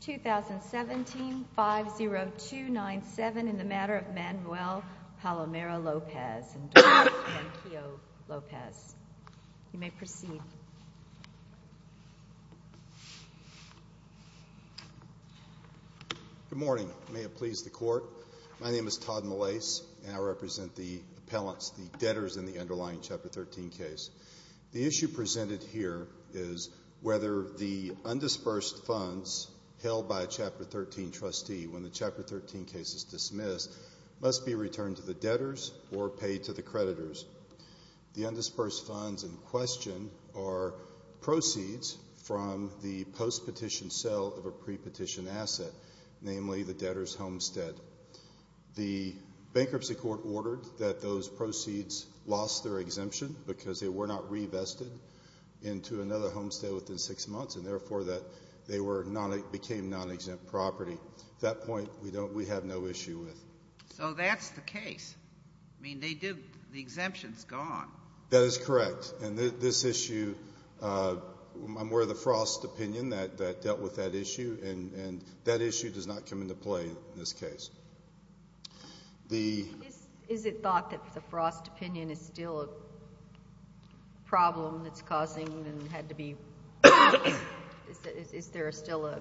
2017 50297 in the matter of Manuel Palomero Lopez and Doris Pankio Lopez, you may proceed. Good morning. May it please the court. My name is Todd Molase and I represent the appellants, the debtors in the underlying Chapter 13 case. The issue presented here is whether the undisbursed funds held by a Chapter 13 trustee when the Chapter 13 case is dismissed must be returned to the debtors or paid to the creditors. The undisbursed funds in question are proceeds from the post-petition sale of a pre-petition asset, namely the debtors' homestead. The bankruptcy court ordered that those proceeds lost their exemption because they were not re-vested into another homestead within six months and, therefore, that they became non-exempt property. At that point, we have no issue with it. So that's the case. I mean, the exemption's gone. That is correct. And this issue, I'm aware of the Frost opinion that dealt with that issue, and that issue does not come into play in this case. Is it thought that the Frost opinion is still a problem that's causing and had to be – is there still an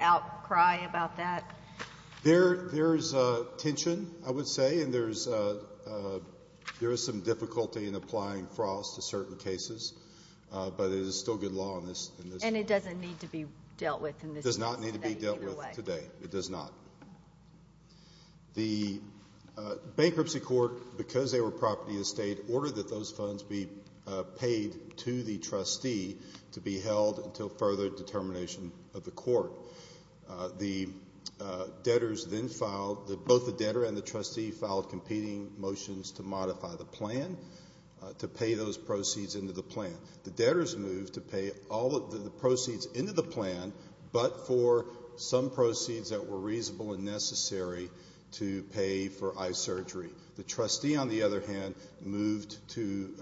outcry about that? There is tension, I would say, and there is some difficulty in applying Frost to certain cases, but it is still good law in this case. And it doesn't need to be dealt with in this case either way. It does not. The bankruptcy court, because they were property estate, ordered that those funds be paid to the trustee to be held until further determination of the court. The debtors then filed – both the debtor and the trustee filed competing motions to modify the plan, to pay those proceeds into the plan. The debtors moved to pay all of the proceeds into the plan, but for some proceeds that were reasonable and necessary to pay for eye surgery. The trustee, on the other hand, moved to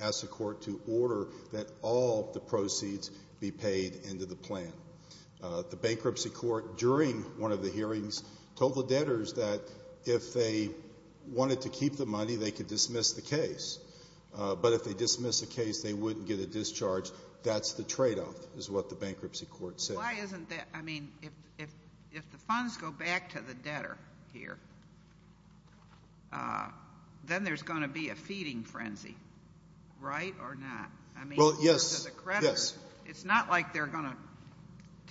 ask the court to order that all the proceeds be paid into the plan. The bankruptcy court, during one of the hearings, told the debtors that if they wanted to keep the money, they could dismiss the case. But if they dismiss the case, they wouldn't get a discharge. That's the tradeoff, is what the bankruptcy court said. Why isn't that – I mean, if the funds go back to the debtor here, then there's going to be a feeding frenzy, right, or not? Well, yes, yes. It's not like they're going to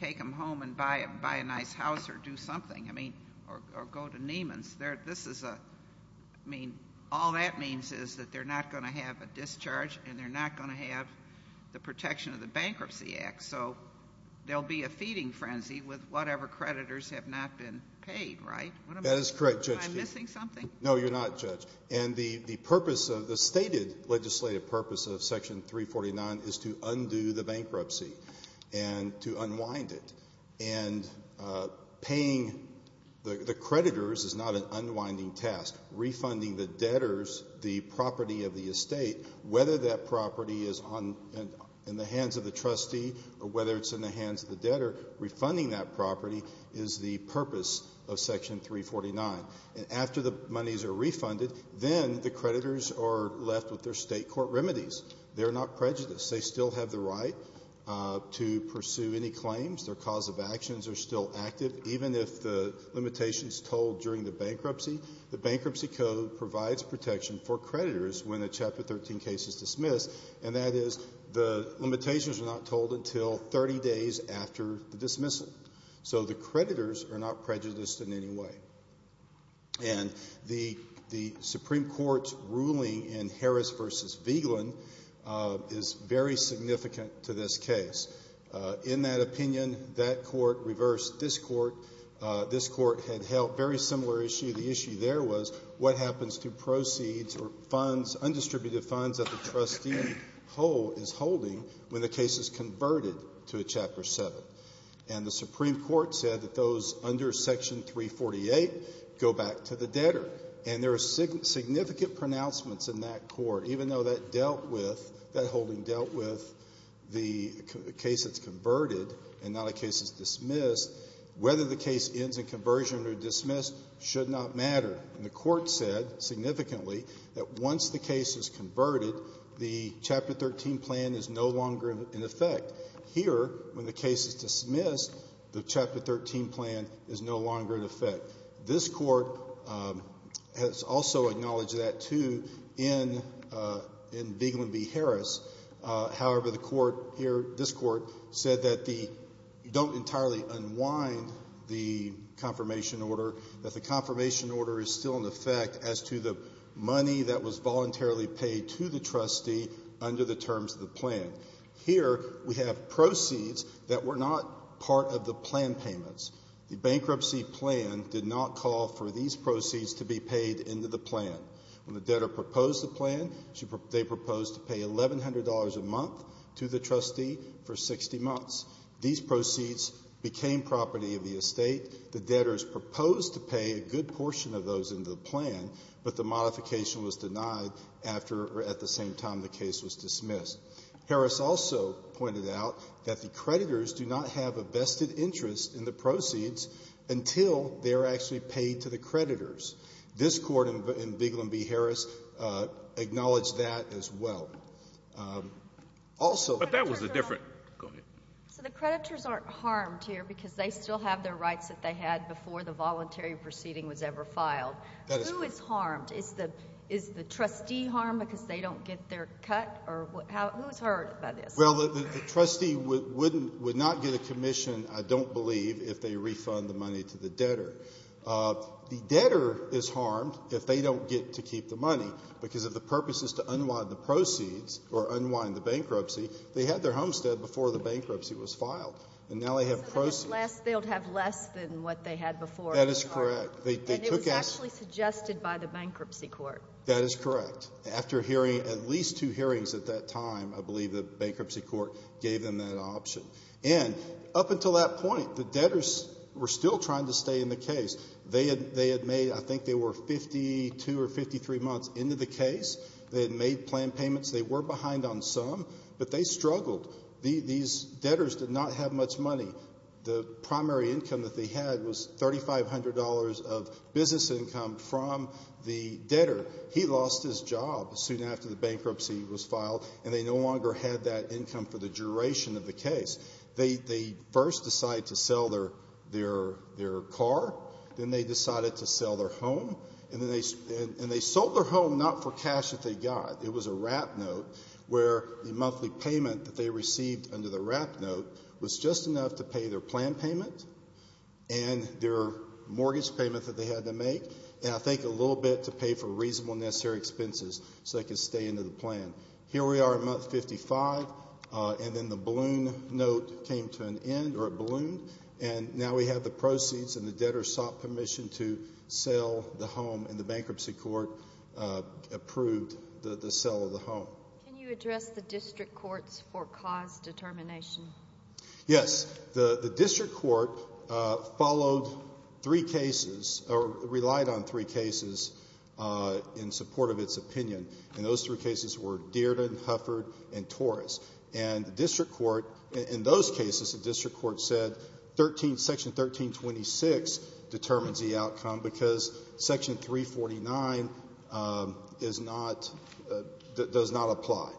take them home and buy a nice house or do something, I mean, or go to Neiman's. I mean, all that means is that they're not going to have a discharge and they're not going to have the protection of the Bankruptcy Act. So there will be a feeding frenzy with whatever creditors have not been paid, right? That is correct, Judge. Am I missing something? No, you're not, Judge. And the purpose of – the stated legislative purpose of Section 349 is to undo the bankruptcy and to unwind it. And paying the creditors is not an unwinding task. Refunding the debtors the property of the estate, whether that property is in the hands of the trustee or whether it's in the hands of the debtor, refunding that property is the purpose of Section 349. And after the monies are refunded, then the creditors are left with their state court remedies. They're not prejudiced. They still have the right to pursue any claims. Their cause of actions are still active, even if the limitation is told during the bankruptcy. The Bankruptcy Code provides protection for creditors when a Chapter 13 case is dismissed, and that is the limitations are not told until 30 days after the dismissal. So the creditors are not prejudiced in any way. And the Supreme Court's ruling in Harris v. Vigeland is very significant to this case. In that opinion, that court reversed this court. This court had held a very similar issue. The issue there was what happens to proceeds or funds, undistributed funds, that the trustee is holding when the case is converted to a Chapter 7. And the Supreme Court said that those under Section 348 go back to the debtor. And there are significant pronouncements in that court, even though that dealt with, that holding dealt with the case that's converted and not a case that's dismissed. Whether the case ends in conversion or dismissed should not matter. And the Court said significantly that once the case is converted, the Chapter 13 plan is no longer in effect. Here, when the case is dismissed, the Chapter 13 plan is no longer in effect. This court has also acknowledged that, too, in Vigeland v. Harris. However, the court here, this court, said that you don't entirely unwind the confirmation order, that the confirmation order is still in effect as to the money that was voluntarily paid to the trustee under the terms of the plan. Here, we have proceeds that were not part of the plan payments. The bankruptcy plan did not call for these proceeds to be paid into the plan. When the debtor proposed the plan, they proposed to pay $1,100 a month to the trustee for 60 months. These proceeds became property of the estate. The debtors proposed to pay a good portion of those into the plan, but the modification was denied after or at the same time the case was dismissed. Harris also pointed out that the creditors do not have a vested interest in the proceeds until they are actually paid to the creditors. This Court in Vigeland v. Harris acknowledged that as well. Also the creditors aren't harmed here because they still have their rights that they had before the voluntary proceeding was ever filed. That is correct. Who is harmed? Is the trustee harmed because they don't get their cut? Who is hurt by this? Well, the trustee would not get a commission, I don't believe, if they refund the money to the debtor. The debtor is harmed if they don't get to keep the money, because if the purpose is to unwind the proceeds or unwind the bankruptcy, they had their homestead before the bankruptcy was filed. And now they have proceeds. They'll have less than what they had before. That is correct. And it was actually suggested by the bankruptcy court. That is correct. After hearing at least two hearings at that time, I believe the bankruptcy court gave them that option. And up until that point, the debtors were still trying to stay in the case. They had made, I think they were 52 or 53 months into the case. They had made planned payments. They were behind on some, but they struggled. These debtors did not have much money. The primary income that they had was $3,500 of business income from the debtor. He lost his job soon after the bankruptcy was filed, and they no longer had that income for the duration of the case. They first decided to sell their car. Then they decided to sell their home. And they sold their home not for cash that they got. It was a wrap note where the monthly payment that they received under the wrap note was just enough to pay their plan payment and their mortgage payment that they had to make and, I think, a little bit to pay for reasonable necessary expenses so they could stay into the plan. Here we are in month 55, and then the balloon note came to an end, or it ballooned, and now we have the proceeds and the debtor sought permission to sell the home, and the bankruptcy court approved the sale of the home. Can you address the district courts for cause determination? Yes. The district court followed three cases or relied on three cases in support of its opinion, and those three cases were Dearden, Hufford, and Torres. And the district court in those cases, the district court said Section 1326 determines the outcome because Section 349 does not apply.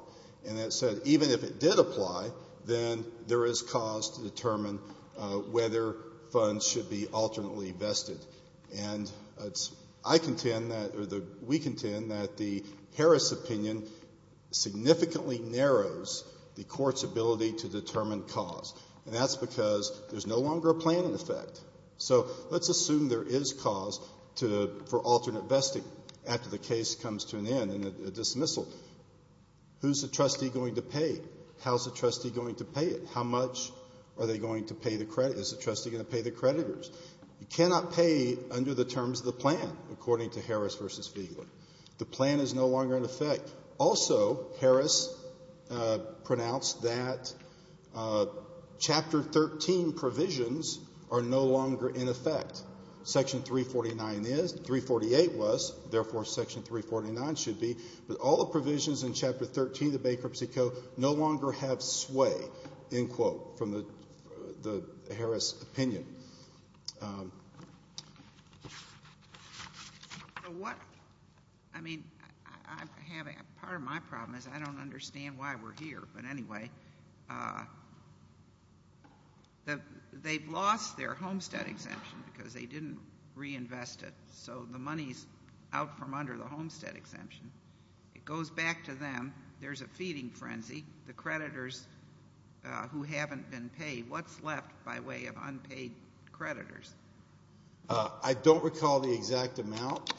And it said even if it did apply, then there is cause to determine whether funds should be alternately vested. And I contend or we contend that the Harris opinion significantly narrows the court's ability to determine cause, and that's because there's no longer a planning effect. So let's assume there is cause for alternate vesting after the case comes to an end and a dismissal. Who's the trustee going to pay? How's the trustee going to pay it? How much are they going to pay the credit? Is the trustee going to pay the creditors? You cannot pay under the terms of the plan, according to Harris v. Feigler. The plan is no longer in effect. Also, Harris pronounced that Chapter 13 provisions are no longer in effect. Section 349 is. 348 was. Therefore, Section 349 should be. But all the provisions in Chapter 13 of the Bankruptcy Code no longer have sway, end quote, from the Harris opinion. So what, I mean, part of my problem is I don't understand why we're here. But anyway, they've lost their homestead exemption because they didn't reinvest it. So the money's out from under the homestead exemption. It goes back to them. There's a feeding frenzy. The creditors who haven't been paid, what's left by way of unpaid creditors? I don't recall the exact amount.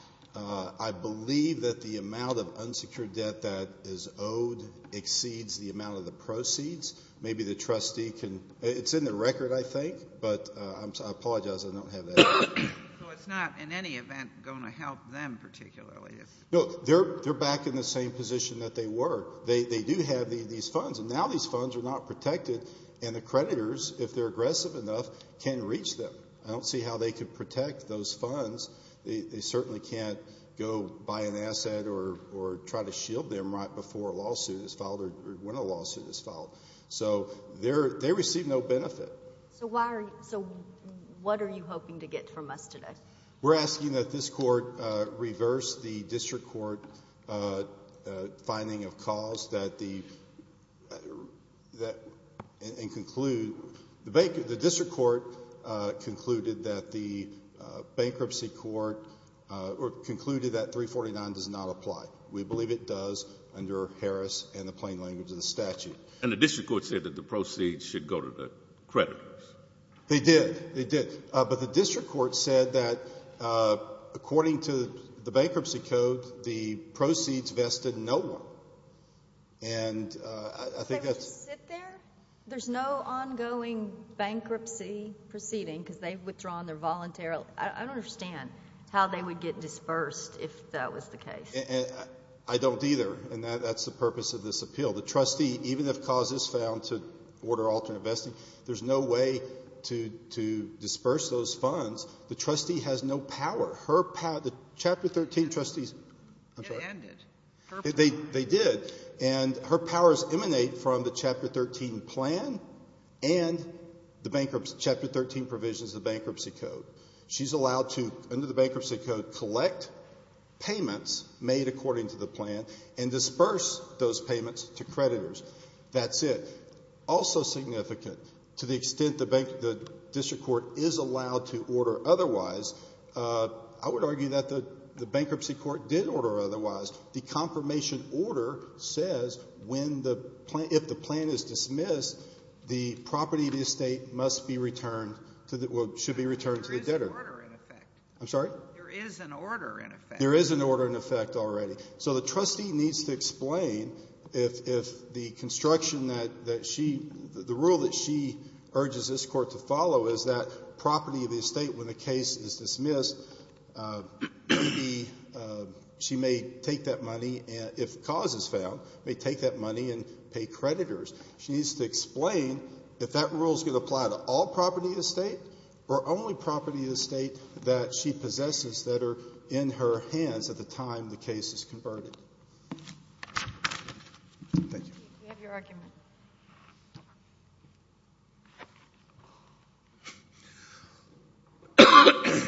I believe that the amount of unsecured debt that is owed exceeds the amount of the proceeds. Maybe the trustee can. It's in the record, I think, but I apologize. I don't have that. So it's not, in any event, going to help them particularly. No, they're back in the same position that they were. They do have these funds, and now these funds are not protected, and the creditors, if they're aggressive enough, can reach them. I don't see how they could protect those funds. They certainly can't go buy an asset or try to shield them right before a lawsuit is filed or when a lawsuit is filed. So they receive no benefit. So what are you hoping to get from us today? We're asking that this court reverse the district court finding of cause and conclude. The district court concluded that the bankruptcy court concluded that 349 does not apply. We believe it does under Harris and the plain language of the statute. And the district court said that the proceeds should go to the creditors. They did, they did. But the district court said that, according to the bankruptcy code, the proceeds vested in no one. And I think that's. They would just sit there? There's no ongoing bankruptcy proceeding because they've withdrawn their voluntary. I don't understand how they would get dispersed if that was the case. I don't either, and that's the purpose of this appeal. The trustee, even if cause is found to order alternate vesting, there's no way to disperse those funds. The trustee has no power. Her power, the Chapter 13 trustees. It ended. They did. And her powers emanate from the Chapter 13 plan and the bankruptcy, Chapter 13 provisions of the bankruptcy code. She's allowed to, under the bankruptcy code, collect payments made according to the plan and disperse those payments to creditors. That's it. Also significant, to the extent the district court is allowed to order otherwise, I would argue that the bankruptcy court did order otherwise. The confirmation order says when the plan, if the plan is dismissed, the property of the estate must be returned to the, should be returned to the debtor. There is an order in effect. I'm sorry? There is an order in effect. There is an order in effect already. So the trustee needs to explain if the construction that she, the rule that she urges this court to follow is that property of the estate, when the case is dismissed, maybe she may take that money, if cause is found, may take that money and pay creditors. She needs to explain if that rule is going to apply to all property of the estate or only property of the estate that she possesses that are in her hands at the time the case is converted. Thank you. We have your argument. Thank you.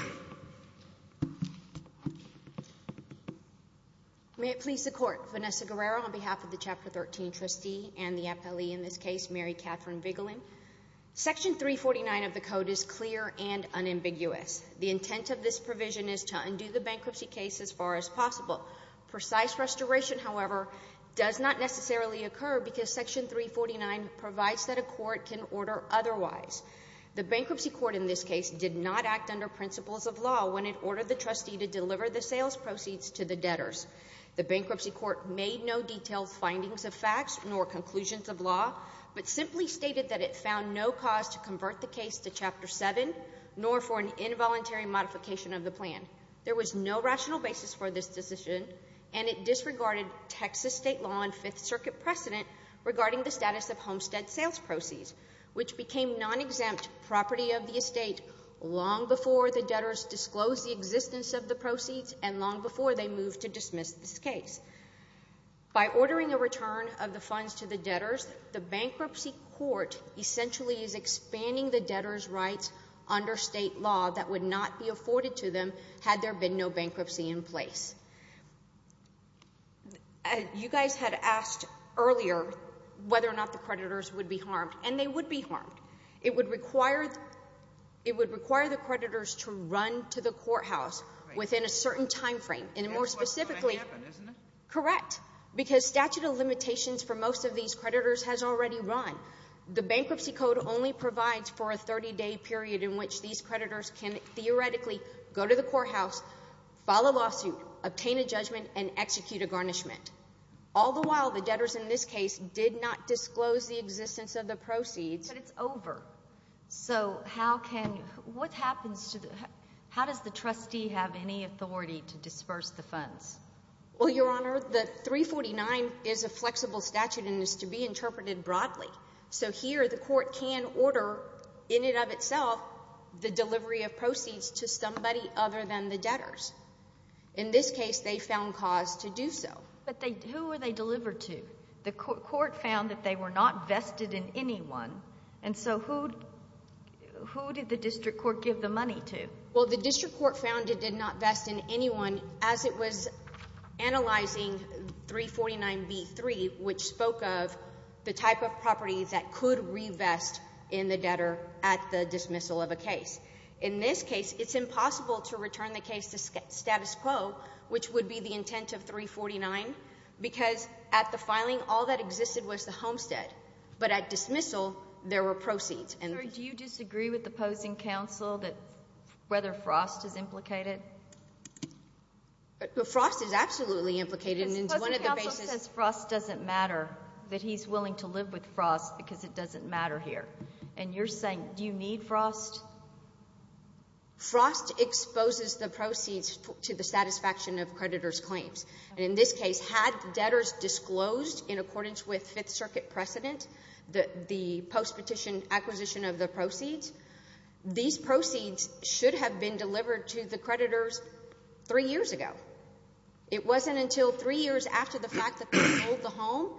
May it please the court. Vanessa Guerrero on behalf of the Chapter 13 trustee and the appellee in this case, Mary Catherine Vigeland. Section 349 of the code is clear and unambiguous. The intent of this provision is to undo the bankruptcy case as far as possible. Precise restoration, however, does not necessarily occur because Section 349 provides that a court can order otherwise. The bankruptcy court in this case did not act under principles of law when it ordered the trustee to deliver the sales proceeds to the debtors. The bankruptcy court made no detailed findings of facts nor conclusions of law but simply stated that it found no cause to convert the case to Chapter 7 nor for an involuntary modification of the plan. There was no rational basis for this decision, and it disregarded Texas state law and Fifth Circuit precedent regarding the status of homestead sales proceeds, which became non-exempt property of the estate long before the debtors disclosed the existence of the proceeds and long before they moved to dismiss this case. By ordering a return of the funds to the debtors, the bankruptcy court essentially is expanding the debtors' rights under state law that would not be afforded to them had there been no bankruptcy in place. You guys had asked earlier whether or not the creditors would be harmed, and they would be harmed. It would require the creditors to run to the courthouse within a certain timeframe. That's what's going to happen, isn't it? Correct, because statute of limitations for most of these creditors has already run. The bankruptcy code only provides for a 30-day period in which these creditors can theoretically go to the courthouse, file a lawsuit, obtain a judgment, and execute a garnishment. All the while, the debtors in this case did not disclose the existence of the proceeds. But it's over. So how can – what happens to the – how does the trustee have any authority to disperse the funds? Well, Your Honor, the 349 is a flexible statute and is to be interpreted broadly. So here the court can order in and of itself the delivery of proceeds to somebody other than the debtors. In this case, they found cause to do so. But who were they delivered to? The court found that they were not vested in anyone, and so who did the district court give the money to? Well, the district court found it did not vest in anyone as it was analyzing 349b-3, which spoke of the type of property that could revest in the debtor at the dismissal of a case. In this case, it's impossible to return the case to status quo, which would be the intent of 349, because at the filing, all that existed was the homestead. But at dismissal, there were proceeds. Do you disagree with the opposing counsel that – whether Frost is implicated? Frost is absolutely implicated. Because opposing counsel says Frost doesn't matter, that he's willing to live with Frost because it doesn't matter here. And you're saying, do you need Frost? In this case, had debtors disclosed in accordance with Fifth Circuit precedent the post-petition acquisition of the proceeds, these proceeds should have been delivered to the creditors three years ago. It wasn't until three years after the fact that they sold the home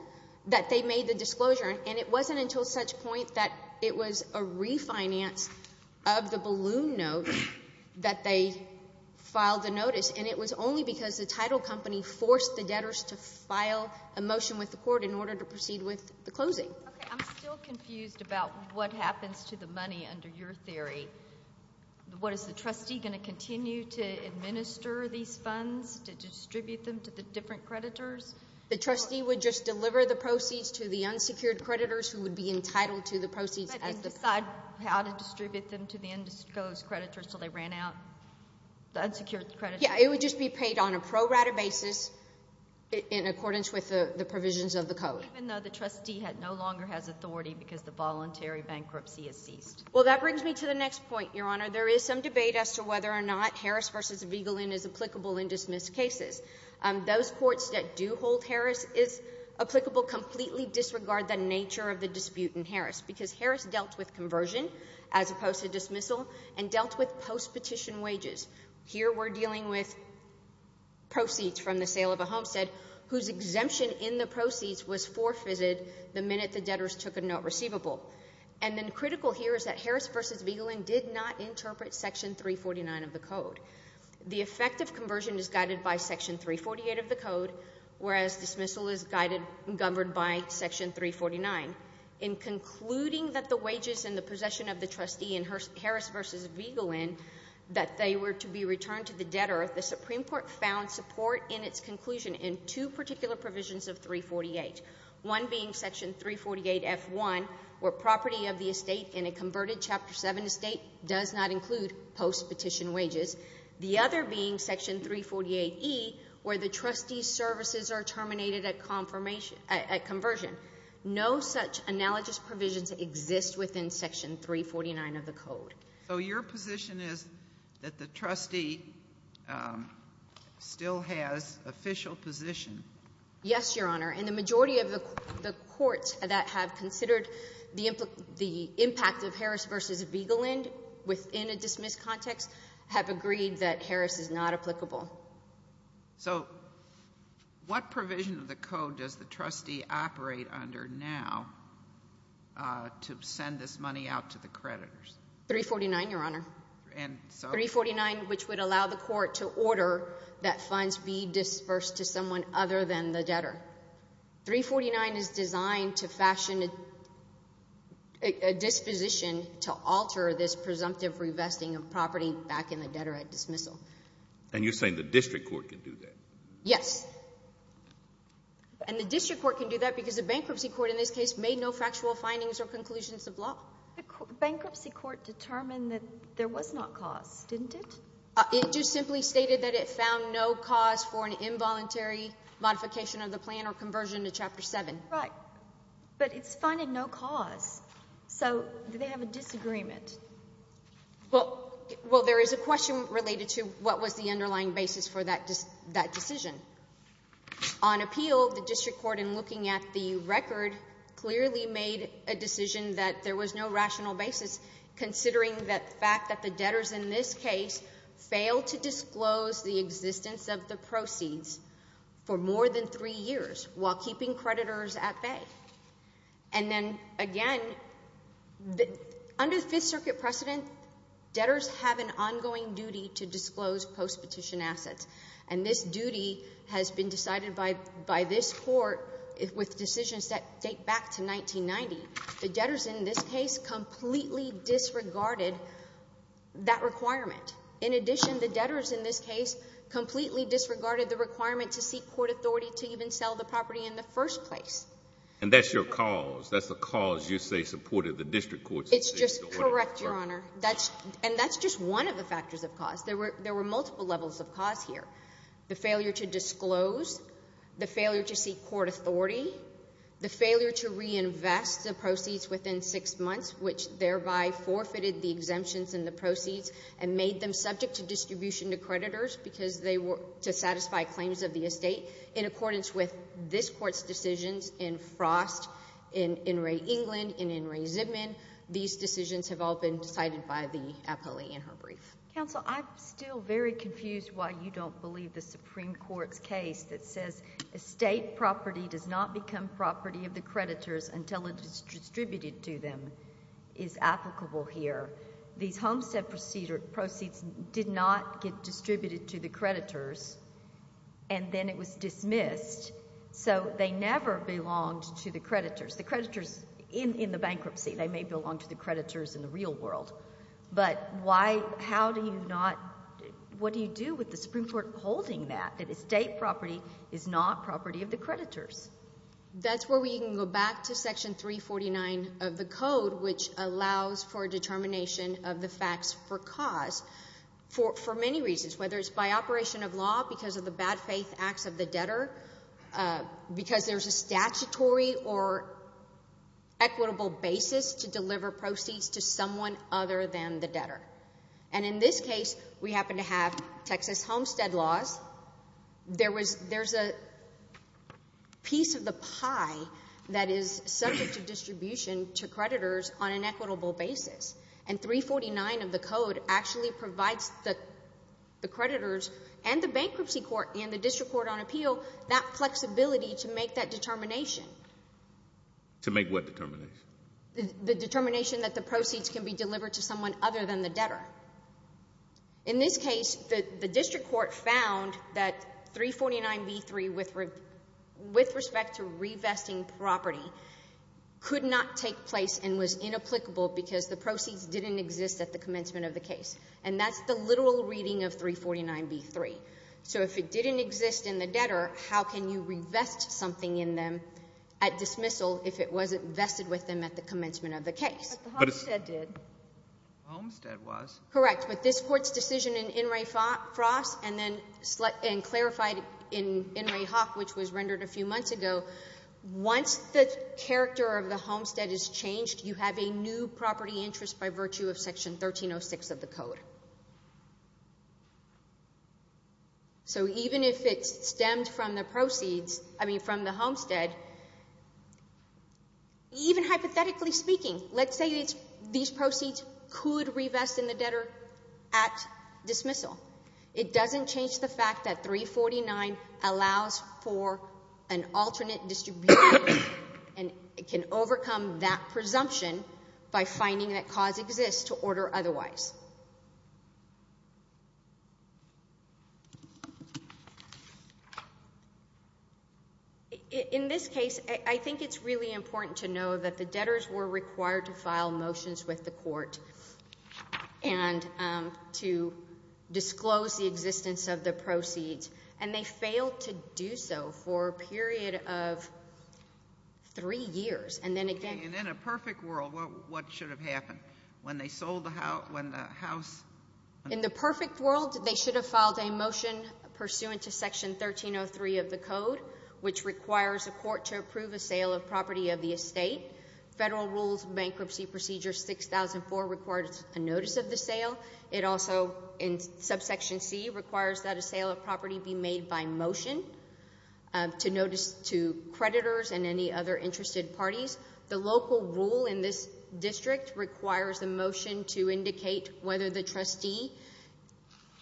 that they made the disclosure, and it wasn't until such point that it was a refinance of the balloon note that they filed the notice, and it was only because the title company forced the debtors to file a motion with the court in order to proceed with the closing. Okay, I'm still confused about what happens to the money under your theory. What, is the trustee going to continue to administer these funds, to distribute them to the different creditors? The trustee would just deliver the proceeds to the unsecured creditors who would be entitled to the proceeds. They didn't decide how to distribute them to the indisclosed creditors until they ran out? The unsecured creditors? Yeah, it would just be paid on a pro rata basis in accordance with the provisions of the code. Even though the trustee no longer has authority because the voluntary bankruptcy has ceased? Well, that brings me to the next point, Your Honor. There is some debate as to whether or not Harris v. Vigelin is applicable in dismissed cases. Those courts that do hold Harris is applicable completely disregard the nature of the dispute in Harris because Harris dealt with conversion as opposed to dismissal and dealt with post-petition wages. Here we're dealing with proceeds from the sale of a homestead whose exemption in the proceeds was forfeited the minute the debtors took a note receivable. And then critical here is that Harris v. Vigelin did not interpret Section 349 of the code. The effect of conversion is guided by Section 348 of the code, whereas dismissal is guided and governed by Section 349. In concluding that the wages in the possession of the trustee in Harris v. Vigelin, that they were to be returned to the debtor, the Supreme Court found support in its conclusion in two particular provisions of 348, one being Section 348F1, where property of the estate in a converted Chapter 7 estate does not include post-petition wages, the other being Section 348E, where the trustee's services are terminated at conversion. No such analogous provisions exist within Section 349 of the code. So your position is that the trustee still has official position? Yes, Your Honor. And the majority of the courts that have considered the impact of Harris v. Vigelin within a dismissed context have agreed that Harris is not applicable. So what provision of the code does the trustee operate under now to send this money out to the creditors? 349, Your Honor. And so? 349, which would allow the court to order that funds be dispersed to someone other than the debtor. 349 is designed to fashion a disposition to alter this presumptive revesting of property back in the debtor at dismissal. And you're saying the district court can do that? Yes. And the district court can do that because the bankruptcy court in this case made no factual findings or conclusions of law. The bankruptcy court determined that there was not cause, didn't it? It just simply stated that it found no cause for an involuntary modification of the plan or conversion to Chapter 7. Right. But it's finding no cause. So do they have a disagreement? Well, there is a question related to what was the underlying basis for that decision. On appeal, the district court, in looking at the record, clearly made a decision that there was no rational basis considering the fact that the debtors in this case failed to disclose the existence of the proceeds for more than 3 years while keeping creditors at bay. And then, again, under the Fifth Circuit precedent, debtors have an ongoing duty to disclose postpetition assets. And this duty has been decided by this court with decisions that date back to 1990. The debtors in this case completely disregarded that requirement. In addition, the debtors in this case completely disregarded the requirement to seek court authority to even sell the property in the first place. And that's your cause? That's the cause you say supported the district court's decision? It's just correct, Your Honor. And that's just one of the factors of cause. There were multiple levels of cause here. The failure to disclose, the failure to seek court authority, the failure to reinvest the proceeds within 6 months, which thereby forfeited the exemptions in the proceeds and made them subject to distribution to creditors because they were to satisfy claims of the estate. In accordance with this court's decisions in Frost, in In re. England, in In re. Zipman, these decisions have all been decided by the appellee in her brief. Counsel, I'm still very confused why you don't believe the Supreme Court's case that says estate property does not become property of the creditors until it is distributed to them is applicable here. These homestead proceeds did not get distributed to the creditors, and then it was dismissed. So they never belonged to the creditors. The creditors in the bankruptcy, they may belong to the creditors in the real world. But why, how do you not, what do you do with the Supreme Court holding that, that estate property is not property of the creditors? That's where we can go back to Section 349 of the Code, which allows for determination of the facts for cause, for many reasons, whether it's by operation of law because of the bad faith acts of the debtor, because there's a statutory or equitable basis to deliver proceeds to someone other than the debtor. And in this case, we happen to have Texas homestead laws. There's a piece of the pie that is subject to distribution to creditors on an equitable basis. And 349 of the Code actually provides the creditors and the bankruptcy court and the district court on appeal that flexibility to make that determination. To make what determination? The determination that the proceeds can be delivered to someone other than the debtor. In this case, the district court found that 349b3 with respect to revesting property could not take place and was inapplicable because the proceeds didn't exist at the commencement of the case. And that's the literal reading of 349b3. So if it didn't exist in the debtor, how can you revest something in them at dismissal if it wasn't vested with them at the commencement of the case? But the homestead did. The homestead was. Correct. But this court's decision in Inouye-Frost and then clarified in Inouye-Hawk, which was rendered a few months ago, once the character of the homestead is changed, you have a new property interest by virtue of Section 1306 of the Code. So even if it stemmed from the proceeds, I mean from the homestead, even hypothetically speaking, let's say these proceeds could revest in the debtor at dismissal. It doesn't change the fact that 349 allows for an alternate distribution and can overcome that presumption by finding that cause exists to order otherwise. In this case, I think it's really important to know that the debtors were required to file motions with the court and to disclose the existence of the proceeds, and they failed to do so for a period of three years. And then again— And in a perfect world, what should have happened? In the perfect world, they should have filed a motion pursuant to Section 1303 of the Code, which requires a court to approve a sale of property of the estate. Federal Rules Bankruptcy Procedure 6004 requires a notice of the sale. It also, in Subsection C, requires that a sale of property be made by motion to notice to creditors and any other interested parties. The local rule in this district requires a motion to indicate whether the trustee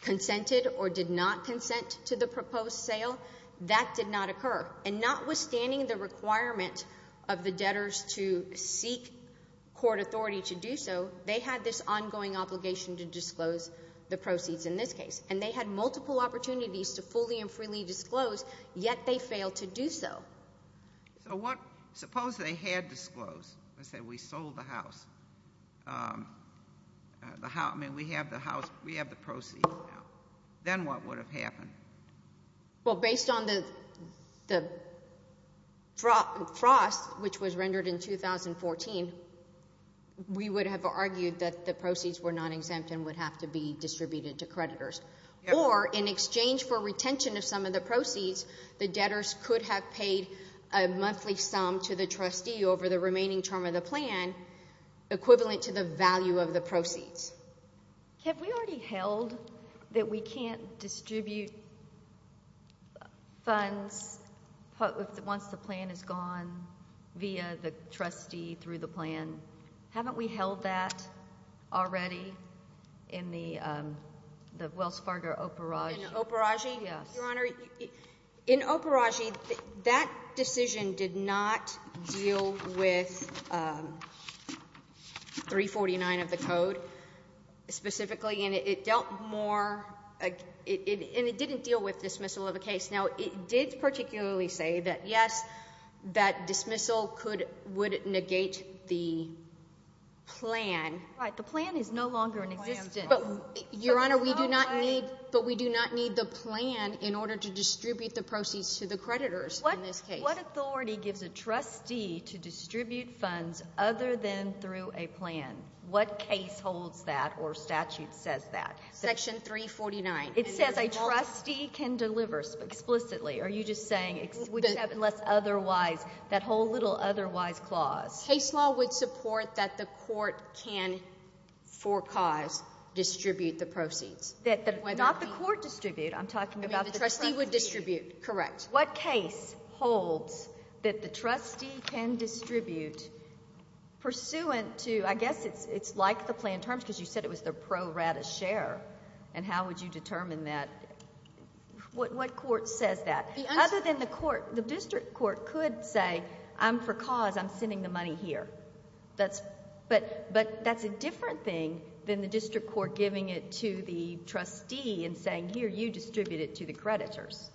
consented or did not consent to the proposed sale. That did not occur. And notwithstanding the requirement of the debtors to seek court authority to do so, they had this ongoing obligation to disclose the proceeds in this case. And they had multiple opportunities to fully and freely disclose, yet they failed to do so. So what—suppose they had disclosed and said, we sold the house. I mean, we have the house—we have the proceeds now. Then what would have happened? Well, based on the frost, which was rendered in 2014, we would have argued that the proceeds were not exempt and would have to be distributed to creditors. Or in exchange for retention of some of the proceeds, the debtors could have paid a monthly sum to the trustee over the remaining term of the plan equivalent to the value of the proceeds. Have we already held that we can't distribute funds once the plan is gone via the trustee through the plan? Haven't we held that already in the Wells Fargo Operage? In the Operage? Yes. Your Honor, in Operage, that decision did not deal with 349 of the Code specifically, and it dealt more—and it didn't deal with dismissal of a case. Now, it did particularly say that, yes, that dismissal would negate the plan. Right. The plan is no longer in existence. But, Your Honor, we do not need the plan in order to distribute the proceeds to the creditors in this case. What authority gives a trustee to distribute funds other than through a plan? What case holds that or statute says that? Section 349. It says a trustee can deliver explicitly. Are you just saying—unless otherwise, that whole little otherwise clause. Case law would support that the court can, for cause, distribute the proceeds. Not the court distribute. I'm talking about the trustee. The trustee would distribute. Correct. What case holds that the trustee can distribute pursuant to—I guess it's like the plan terms, because you said it was the pro rata share, and how would you determine that? What court says that? Other than the court, the district court could say, I'm for cause, I'm sending the money here. But that's a different thing than the district court giving it to the trustee and saying, here, you distribute it to the creditors.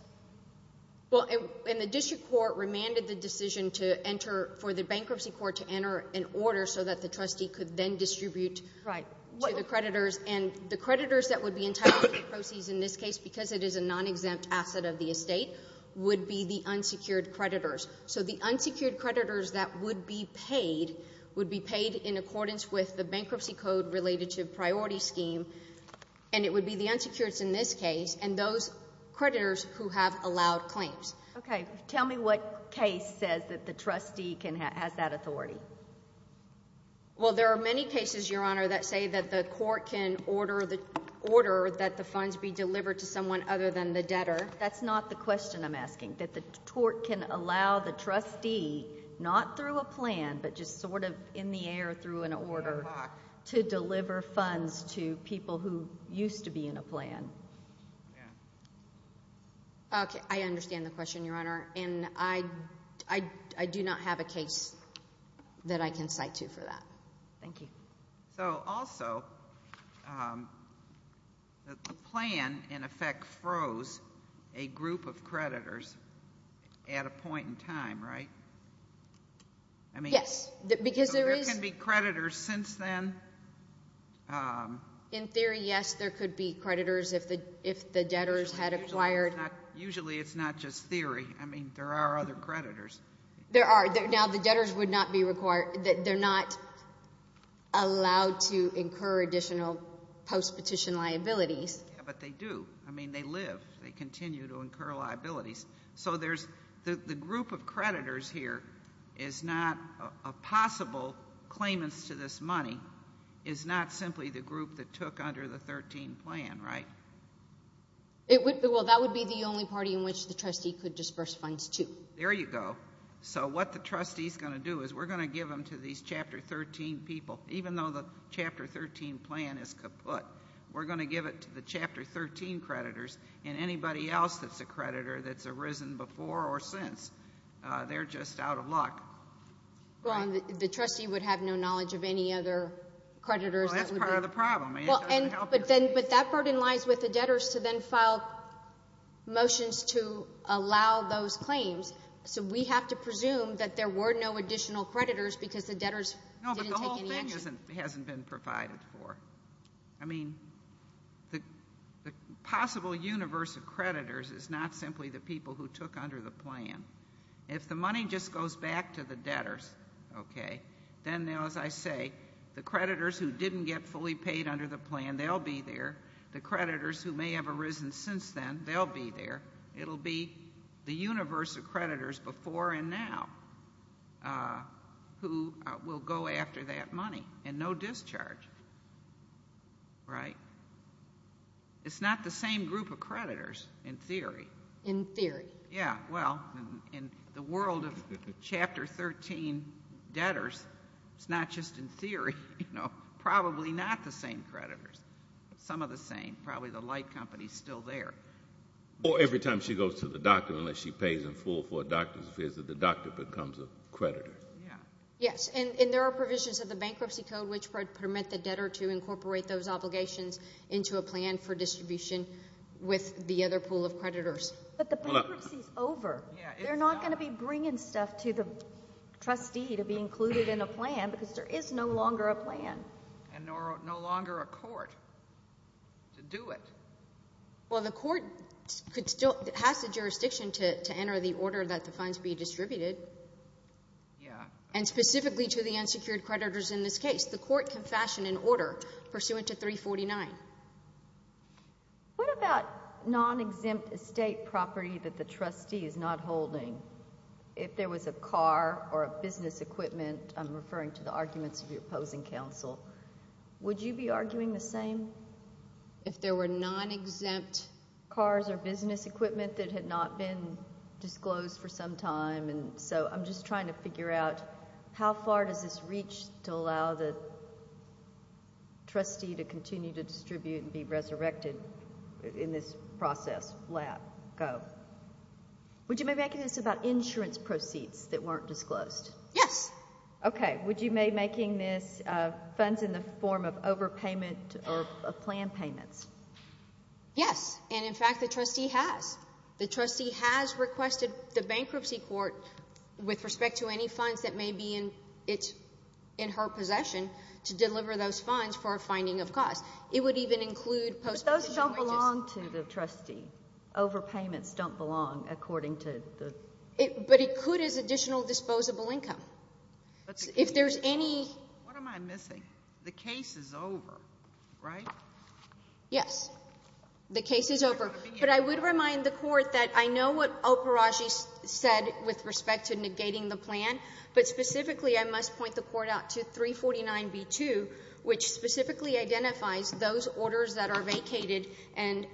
Well, and the district court remanded the decision to enter—for the bankruptcy court to enter an order so that the trustee could then distribute to the creditors. And the creditors that would be entitled to the proceeds in this case, because it is a non-exempt asset of the estate, would be the unsecured creditors. So the unsecured creditors that would be paid would be paid in accordance with the bankruptcy code related to priority scheme, and it would be the unsecureds in this case and those creditors who have allowed claims. Okay. Tell me what case says that the trustee has that authority. Well, there are many cases, Your Honor, that say that the court can order that the funds be delivered to someone other than the debtor. That's not the question I'm asking, that the court can allow the trustee, not through a plan, but just sort of in the air through an order to deliver funds to people who used to be in a plan. Okay. I understand the question, Your Honor, and I do not have a case that I can cite to for that. Thank you. So also, the plan, in effect, froze a group of creditors at a point in time, right? Yes. Because there is— So there can be creditors since then? In theory, yes, there could be creditors if the debtors had acquired— Usually it's not just theory. I mean, there are other creditors. There are. Now, the debtors would not be required—they're not allowed to incur additional post-petition liabilities. Yeah, but they do. I mean, they live. They continue to incur liabilities. So there's—the group of creditors here is not a possible claimant to this money. It's not simply the group that took under the 13 plan, right? Well, that would be the only party in which the trustee could disburse funds to. There you go. So what the trustee's going to do is we're going to give them to these Chapter 13 people, even though the Chapter 13 plan is kaput. We're going to give it to the Chapter 13 creditors, and anybody else that's a creditor that's arisen before or since, they're just out of luck. Well, and the trustee would have no knowledge of any other creditors that would be— Well, that's part of the problem. But that burden lies with the debtors to then file motions to allow those claims. So we have to presume that there were no additional creditors because the debtors didn't take any action. It hasn't been provided for. I mean, the possible universe of creditors is not simply the people who took under the plan. If the money just goes back to the debtors, okay, then, as I say, the creditors who didn't get fully paid under the plan, they'll be there. The creditors who may have arisen since then, they'll be there. It'll be the universe of creditors before and now who will go after that money, and no discharge, right? It's not the same group of creditors in theory. In theory. Yeah. Well, in the world of Chapter 13 debtors, it's not just in theory. You know, probably not the same creditors. Some are the same. Probably the light company is still there. Or every time she goes to the doctor, unless she pays in full for a doctor's visit, the doctor becomes a creditor. Yeah. Yes, and there are provisions of the Bankruptcy Code which permit the debtor to incorporate those obligations into a plan for distribution with the other pool of creditors. But the bankruptcy is over. They're not going to be bringing stuff to the trustee to be included in a plan because there is no longer a plan. And no longer a court to do it. Well, the court has the jurisdiction to enter the order that the fines be distributed. Yeah. And specifically to the unsecured creditors in this case. The court can fashion an order pursuant to 349. What about non-exempt estate property that the trustee is not holding? If there was a car or a business equipment, I'm referring to the arguments of your opposing counsel, would you be arguing the same? If there were non-exempt cars or business equipment that had not been disclosed for some time. And so I'm just trying to figure out how far does this reach to allow the trustee to continue to distribute and be resurrected in this process? Lab? Go? Would you be making this about insurance proceeds that weren't disclosed? Yes. Okay. Would you be making this funds in the form of overpayment or planned payments? Yes. And, in fact, the trustee has. The trustee has requested the bankruptcy court, with respect to any funds that may be in her possession, to deliver those funds for a finding of costs. It would even include post-position wages. But those don't belong to the trustee. Overpayments don't belong according to the. But it could as additional disposable income. If there's any. What am I missing? The case is over, right? Yes. The case is over. But I would remind the court that I know what Oparaji said with respect to negating the plan, but specifically I must point the court out to 349B2, which specifically identifies those orders that are vacated. And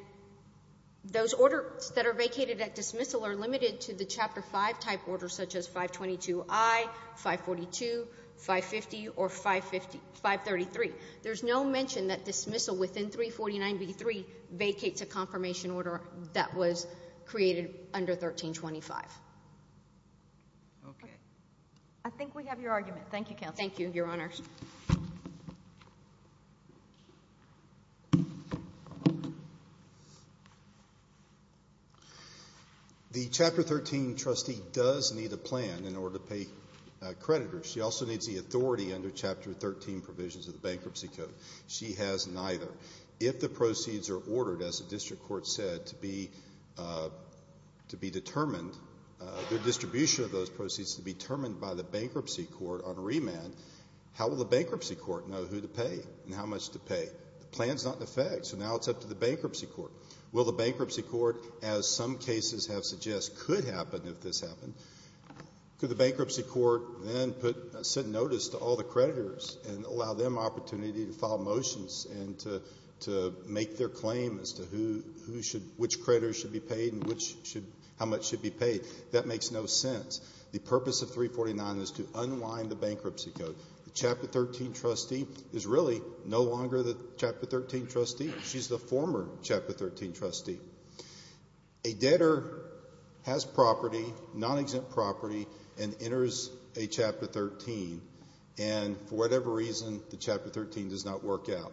those orders that are vacated at dismissal are limited to the Chapter 5 type orders, such as 522I, 542, 550, or 533. There's no mention that dismissal within 349B3 vacates a confirmation order that was created under 1325. Okay. I think we have your argument. Thank you, Counsel. Thank you, Your Honors. The Chapter 13 trustee does need a plan in order to pay creditors. She also needs the authority under Chapter 13 provisions of the Bankruptcy Code. She has neither. If the proceeds are ordered, as the District Court said, to be determined, the distribution of those proceeds to be determined by the Bankruptcy Court on remand, how will the Bankruptcy Court know who to pay and how much to pay? The plan is not in effect, so now it's up to the Bankruptcy Court. Will the Bankruptcy Court, as some cases have suggested, could happen if this happened? Could the Bankruptcy Court then set notice to all the creditors and allow them opportunity to file motions and to make their claim as to which creditors should be paid and how much should be paid? That makes no sense. The purpose of 349 is to unwind the Bankruptcy Code. The Chapter 13 trustee is really no longer the Chapter 13 trustee. She's the former Chapter 13 trustee. A debtor has property, non-exempt property, and enters a Chapter 13, and for whatever reason, the Chapter 13 does not work out.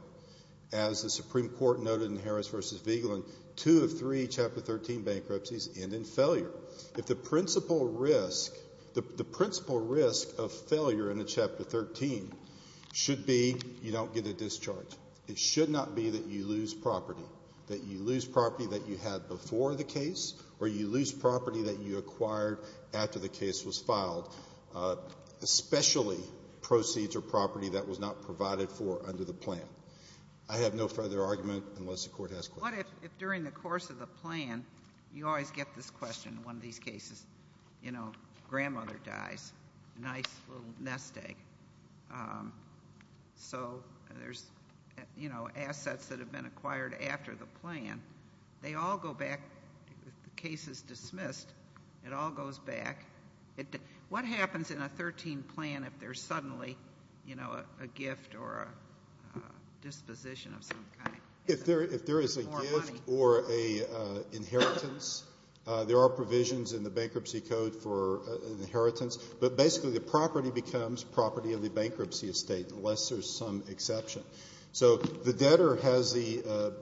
As the Supreme Court noted in Harris v. Vigeland, two of three Chapter 13 bankruptcies end in failure. If the principal risk of failure in a Chapter 13 should be you don't get a discharge, it should not be that you lose property, that you lose property that you had before the case, or you lose property that you acquired after the case was filed, especially proceeds or property that was not provided for under the plan. I have no further argument unless the Court has questions. What if during the course of the plan, you always get this question in one of these cases, you know, grandmother dies, nice little nest egg. So there's, you know, assets that have been acquired after the plan. They all go back. The case is dismissed. It all goes back. What happens in a 13 plan if there's suddenly, you know, a gift or a disposition of some kind? If there is a gift or an inheritance, there are provisions in the Bankruptcy Code for an inheritance, but basically the property becomes property of the bankruptcy estate unless there's some exception. So the debtor has the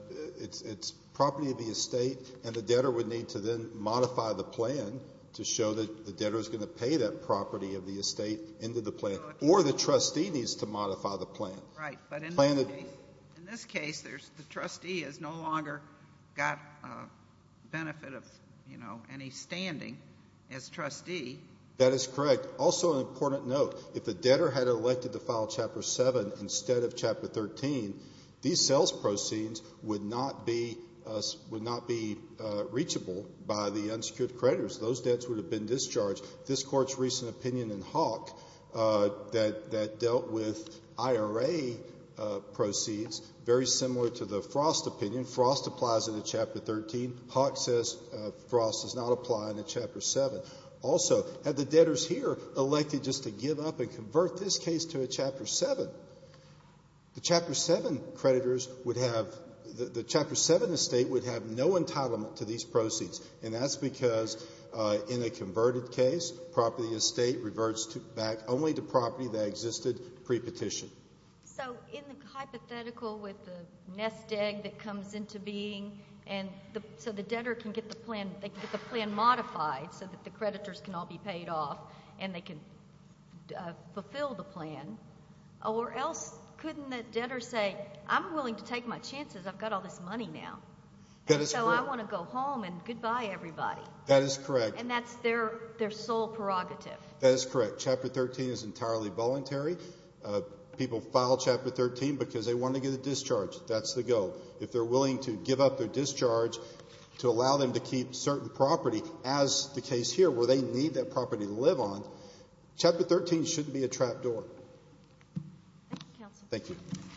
property of the estate, and the debtor would need to then modify the plan to show that the debtor is going to pay that property of the estate into the plan, or the trustee needs to modify the plan. Right, but in this case, the trustee has no longer got benefit of, you know, any standing as trustee. That is correct. Also an important note, if the debtor had elected to file Chapter 7 instead of Chapter 13, these sales proceeds would not be reachable by the unsecured creditors. Those debts would have been discharged. This Court's recent opinion in Hawk that dealt with IRA proceeds, very similar to the Frost opinion. Frost applies in the Chapter 13. Hawk says Frost does not apply in the Chapter 7. Also, had the debtors here elected just to give up and convert this case to a Chapter 7, the Chapter 7 creditors would have, the Chapter 7 estate would have no entitlement to these proceeds, and that's because in a converted case, property estate reverts back only to property that existed pre-petition. So in the hypothetical with the nest egg that comes into being, so the debtor can get the plan modified so that the creditors can all be paid off and they can fulfill the plan, or else couldn't the debtor say, I'm willing to take my chances, I've got all this money now, and so I want to go home and goodbye everybody. That is correct. And that's their sole prerogative. That is correct. Chapter 13 is entirely voluntary. People file Chapter 13 because they want to get a discharge. That's the goal. If they're willing to give up their discharge to allow them to keep certain property, as the case here where they need that property to live on, Chapter 13 shouldn't be a trap door. Thank you, Counsel. Thank you.